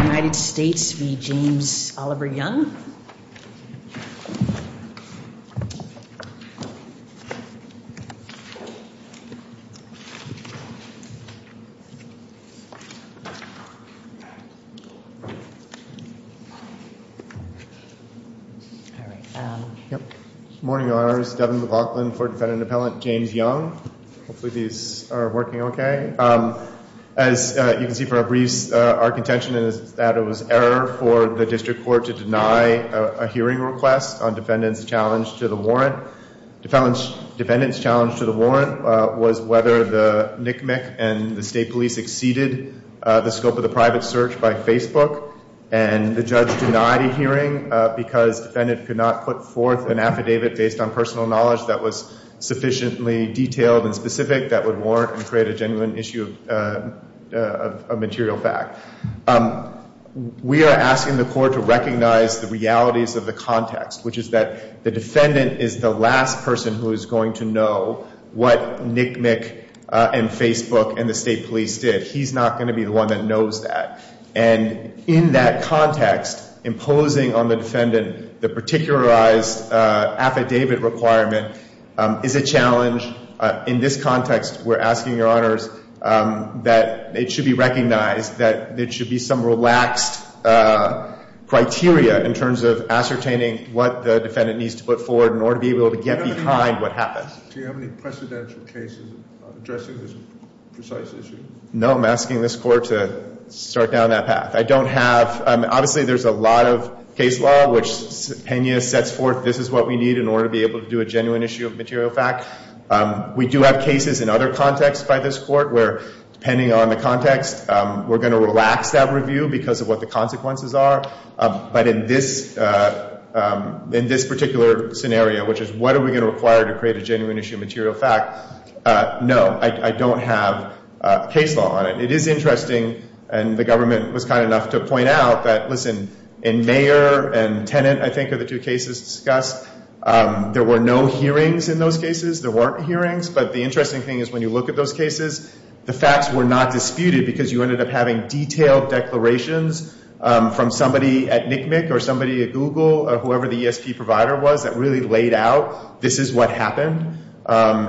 Good morning, I'm Devin McLaughlin, Ford defendant and appellant, James Young, hopefully these are working okay. As you can see from our briefs, our contention is that it was error for the district court to deny a hearing request on defendant's challenge to the warrant. Defendant's challenge to the warrant was whether the NCMEC and the state police exceeded the scope of the private search by Facebook, and the judge denied a hearing because defendant could not put forth an affidavit based on personal knowledge that was sufficiently detailed and specific that would warrant and create a genuine issue of material fact. We are asking the court to recognize the realities of the context, which is that the defendant is the last person who is going to know what NCMEC and Facebook and the state police did. He's not going to be the one that knows that. And in that context, imposing on the defendant the particularized affidavit requirement is a challenge. In this context, we're asking your honors that it should be recognized that there should be some relaxed criteria in terms of ascertaining what the defendant needs to put forward in order to be able to get behind what happens. Do you have any precedential cases addressing this precise issue? No, I'm asking this court to start down that path. I don't have, obviously there's a lot of case law, which Pena sets forth this is what we need in order to be able to do a genuine issue of material fact. We do have cases in other contexts by this court where, depending on the context, we're going to relax that review because of what the consequences are. But in this particular scenario, which is what are we going to require to create a genuine issue of material fact, no, I don't have case law on it. It is interesting, and the government was kind enough to point out that, listen, in Mayer and Tennant, I think, are the two cases discussed. There were no hearings in those cases. There weren't hearings. But the interesting thing is when you look at those cases, the facts were not disputed because you ended up having detailed declarations from somebody at NCMEC or somebody at Google or whoever the ESP provider was that really laid out this is what happened.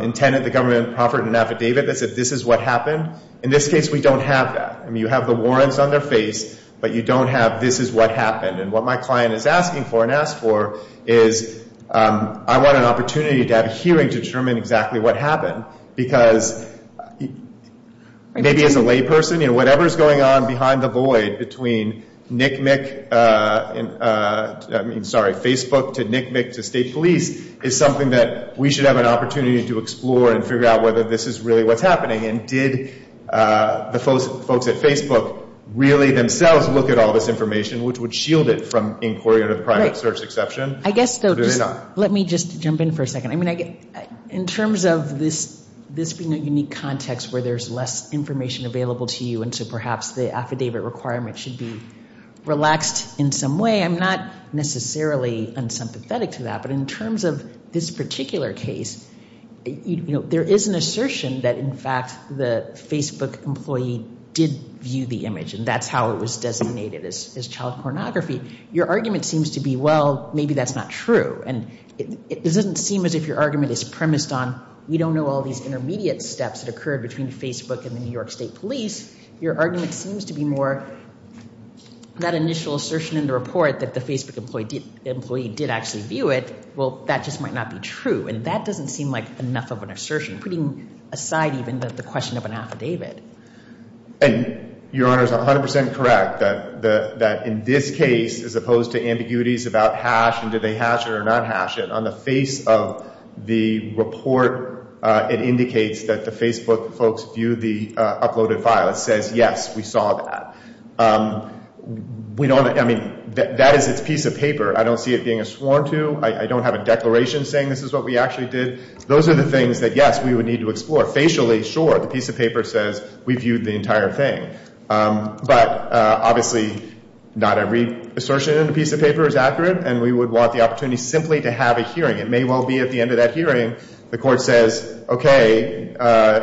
In Tennant, the government offered an affidavit that said this is what happened. In this case, we don't have that. You have the warrants on their face, but you don't have this is what happened. And what my client is asking for and asked for is I want an opportunity to have a hearing to determine exactly what happened because maybe as a layperson, whatever is going on behind the void between Facebook to NCMEC to state police is something that we should have an opportunity to explore and figure out whether this is really what's happening. And did the folks at Facebook really themselves look at all this information, which would shield it from inquiry or private search exception? Let me just jump in for a second. In terms of this being a unique context where there's less information available to you and so perhaps the affidavit requirement should be relaxed in some way, I'm not necessarily unsympathetic to that. But in terms of this particular case, there is an assertion that in fact the Facebook employee did view the image and that's how it was designated as child pornography. Your argument seems to be, well, maybe that's not true. And it doesn't seem as if your argument is premised on we don't know all these intermediate steps that occurred between Facebook and the New York State Police. Your argument seems to be more that initial assertion in the report that the Facebook employee did actually view it. Well, that just might not be true. And that doesn't seem like enough of an assertion, putting aside even the question of an affidavit. And Your Honor is 100% correct that in this case, as opposed to ambiguities about hash and did they hash it or not hash it, on the face of the report, it indicates that the Facebook folks viewed the uploaded file. It says, yes, we saw that. We don't – I mean, that is its piece of paper. I don't see it being a sworn to. I don't have a declaration saying this is what we actually did. Those are the things that, yes, we would need to explore. Facially, sure, the piece of paper says we viewed the entire thing. But obviously not every assertion in the piece of paper is accurate and we would want the opportunity simply to have a hearing. It may well be at the end of that hearing the court says, okay,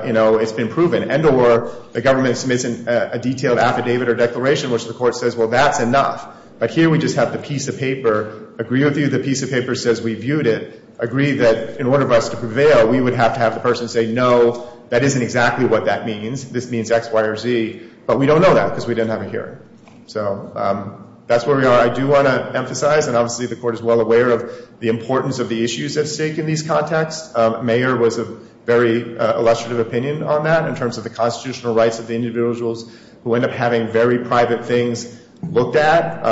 you know, it's been proven, and or the government submits a detailed affidavit or declaration which the court says, well, that's enough. But here we just have the piece of paper. Agree with you, the piece of paper says we viewed it. Agree that in order for us to prevail, we would have to have the person say, no, that isn't exactly what that means. This means X, Y, or Z. But we don't know that because we didn't have a hearing. So that's where we are. I do want to emphasize, and obviously the court is well aware of the importance of the issues at stake in these contexts. Mayer was of very illustrative opinion on that in terms of the constitutional rights of the individuals who end up having very private things looked at.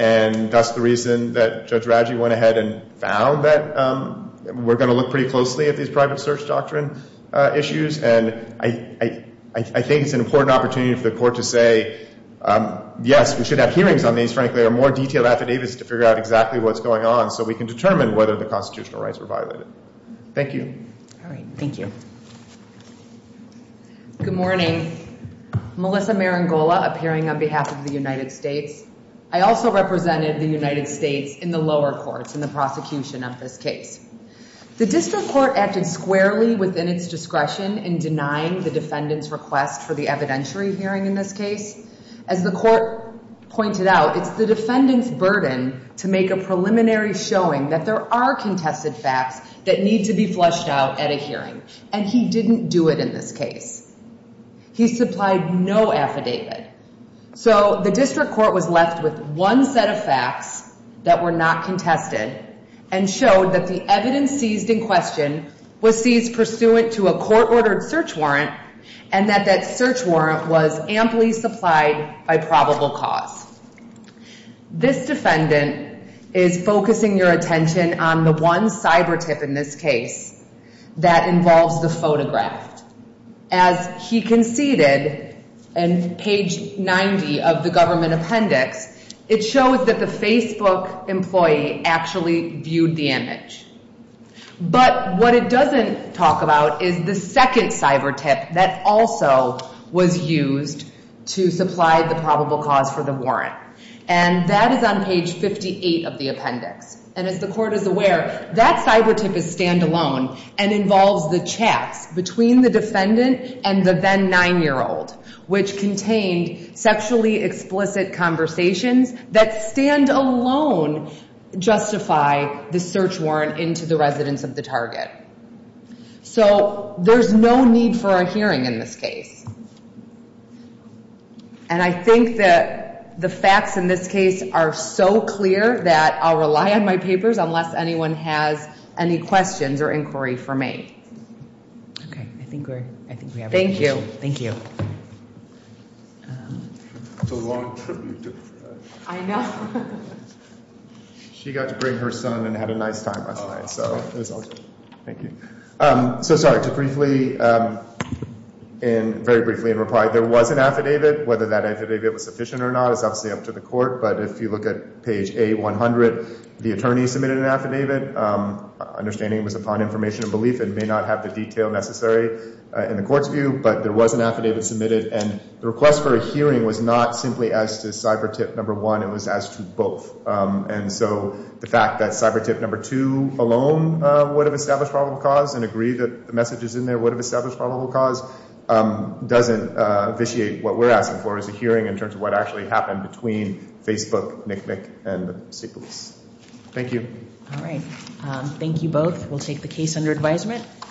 And that's the reason that Judge Radji went ahead and found that we're going to look pretty closely at these private search doctrine issues. And I think it's an important opportunity for the court to say, yes, we should have hearings on these. Frankly, there are more detailed affidavits to figure out exactly what's going on so we can determine whether the constitutional rights were violated. Thank you. All right. Thank you. Good morning. Melissa Marangola, appearing on behalf of the United States. I also represented the United States in the lower courts in the prosecution of this case. The district court acted squarely within its discretion in denying the defendant's request for the evidentiary hearing in this case. As the court pointed out, it's the defendant's burden to make a preliminary showing that there are contested facts that need to be flushed out at a hearing. And he didn't do it in this case. He supplied no affidavit. So the district court was left with one set of facts that were not contested and showed that the evidence seized in question was seized pursuant to a court-ordered search warrant and that that search warrant was amply supplied by probable cause. This defendant is focusing your attention on the one cyber tip in this case that involves the photograph. As he conceded in page 90 of the government appendix, it shows that the Facebook employee actually viewed the image. But what it doesn't talk about is the second cyber tip that also was used to supply the probable cause for the warrant. And that is on page 58 of the appendix. And as the court is aware, that cyber tip is stand-alone and involves the chats between the defendant and the then-9-year-old, which contained sexually explicit conversations that stand-alone justify the search warrant into the residence of the target. So there's no need for a hearing in this case. And I think that the facts in this case are so clear that I'll rely on my papers unless anyone has any questions or inquiry for me. Thank you. Thank you. I know. She got to bring her son and had a nice time last night. Thank you. So, sorry, to briefly and very briefly in reply, there was an affidavit. Whether that affidavit was sufficient or not is obviously up to the court. But if you look at page A-100, the attorney submitted an affidavit, understanding it was upon information and belief. It may not have the detail necessary in the court's view, but there was an affidavit submitted. And the request for a hearing was not simply as to cyber tip number one. It was as to both. And so the fact that cyber tip number two alone would have established probable cause and agree that the messages in there would have established probable cause doesn't vitiate what we're asking for as a hearing in terms of what actually happened between Facebook, Nick Nick, and the state police. Thank you. All right. Thank you both. We'll take the case under advisement.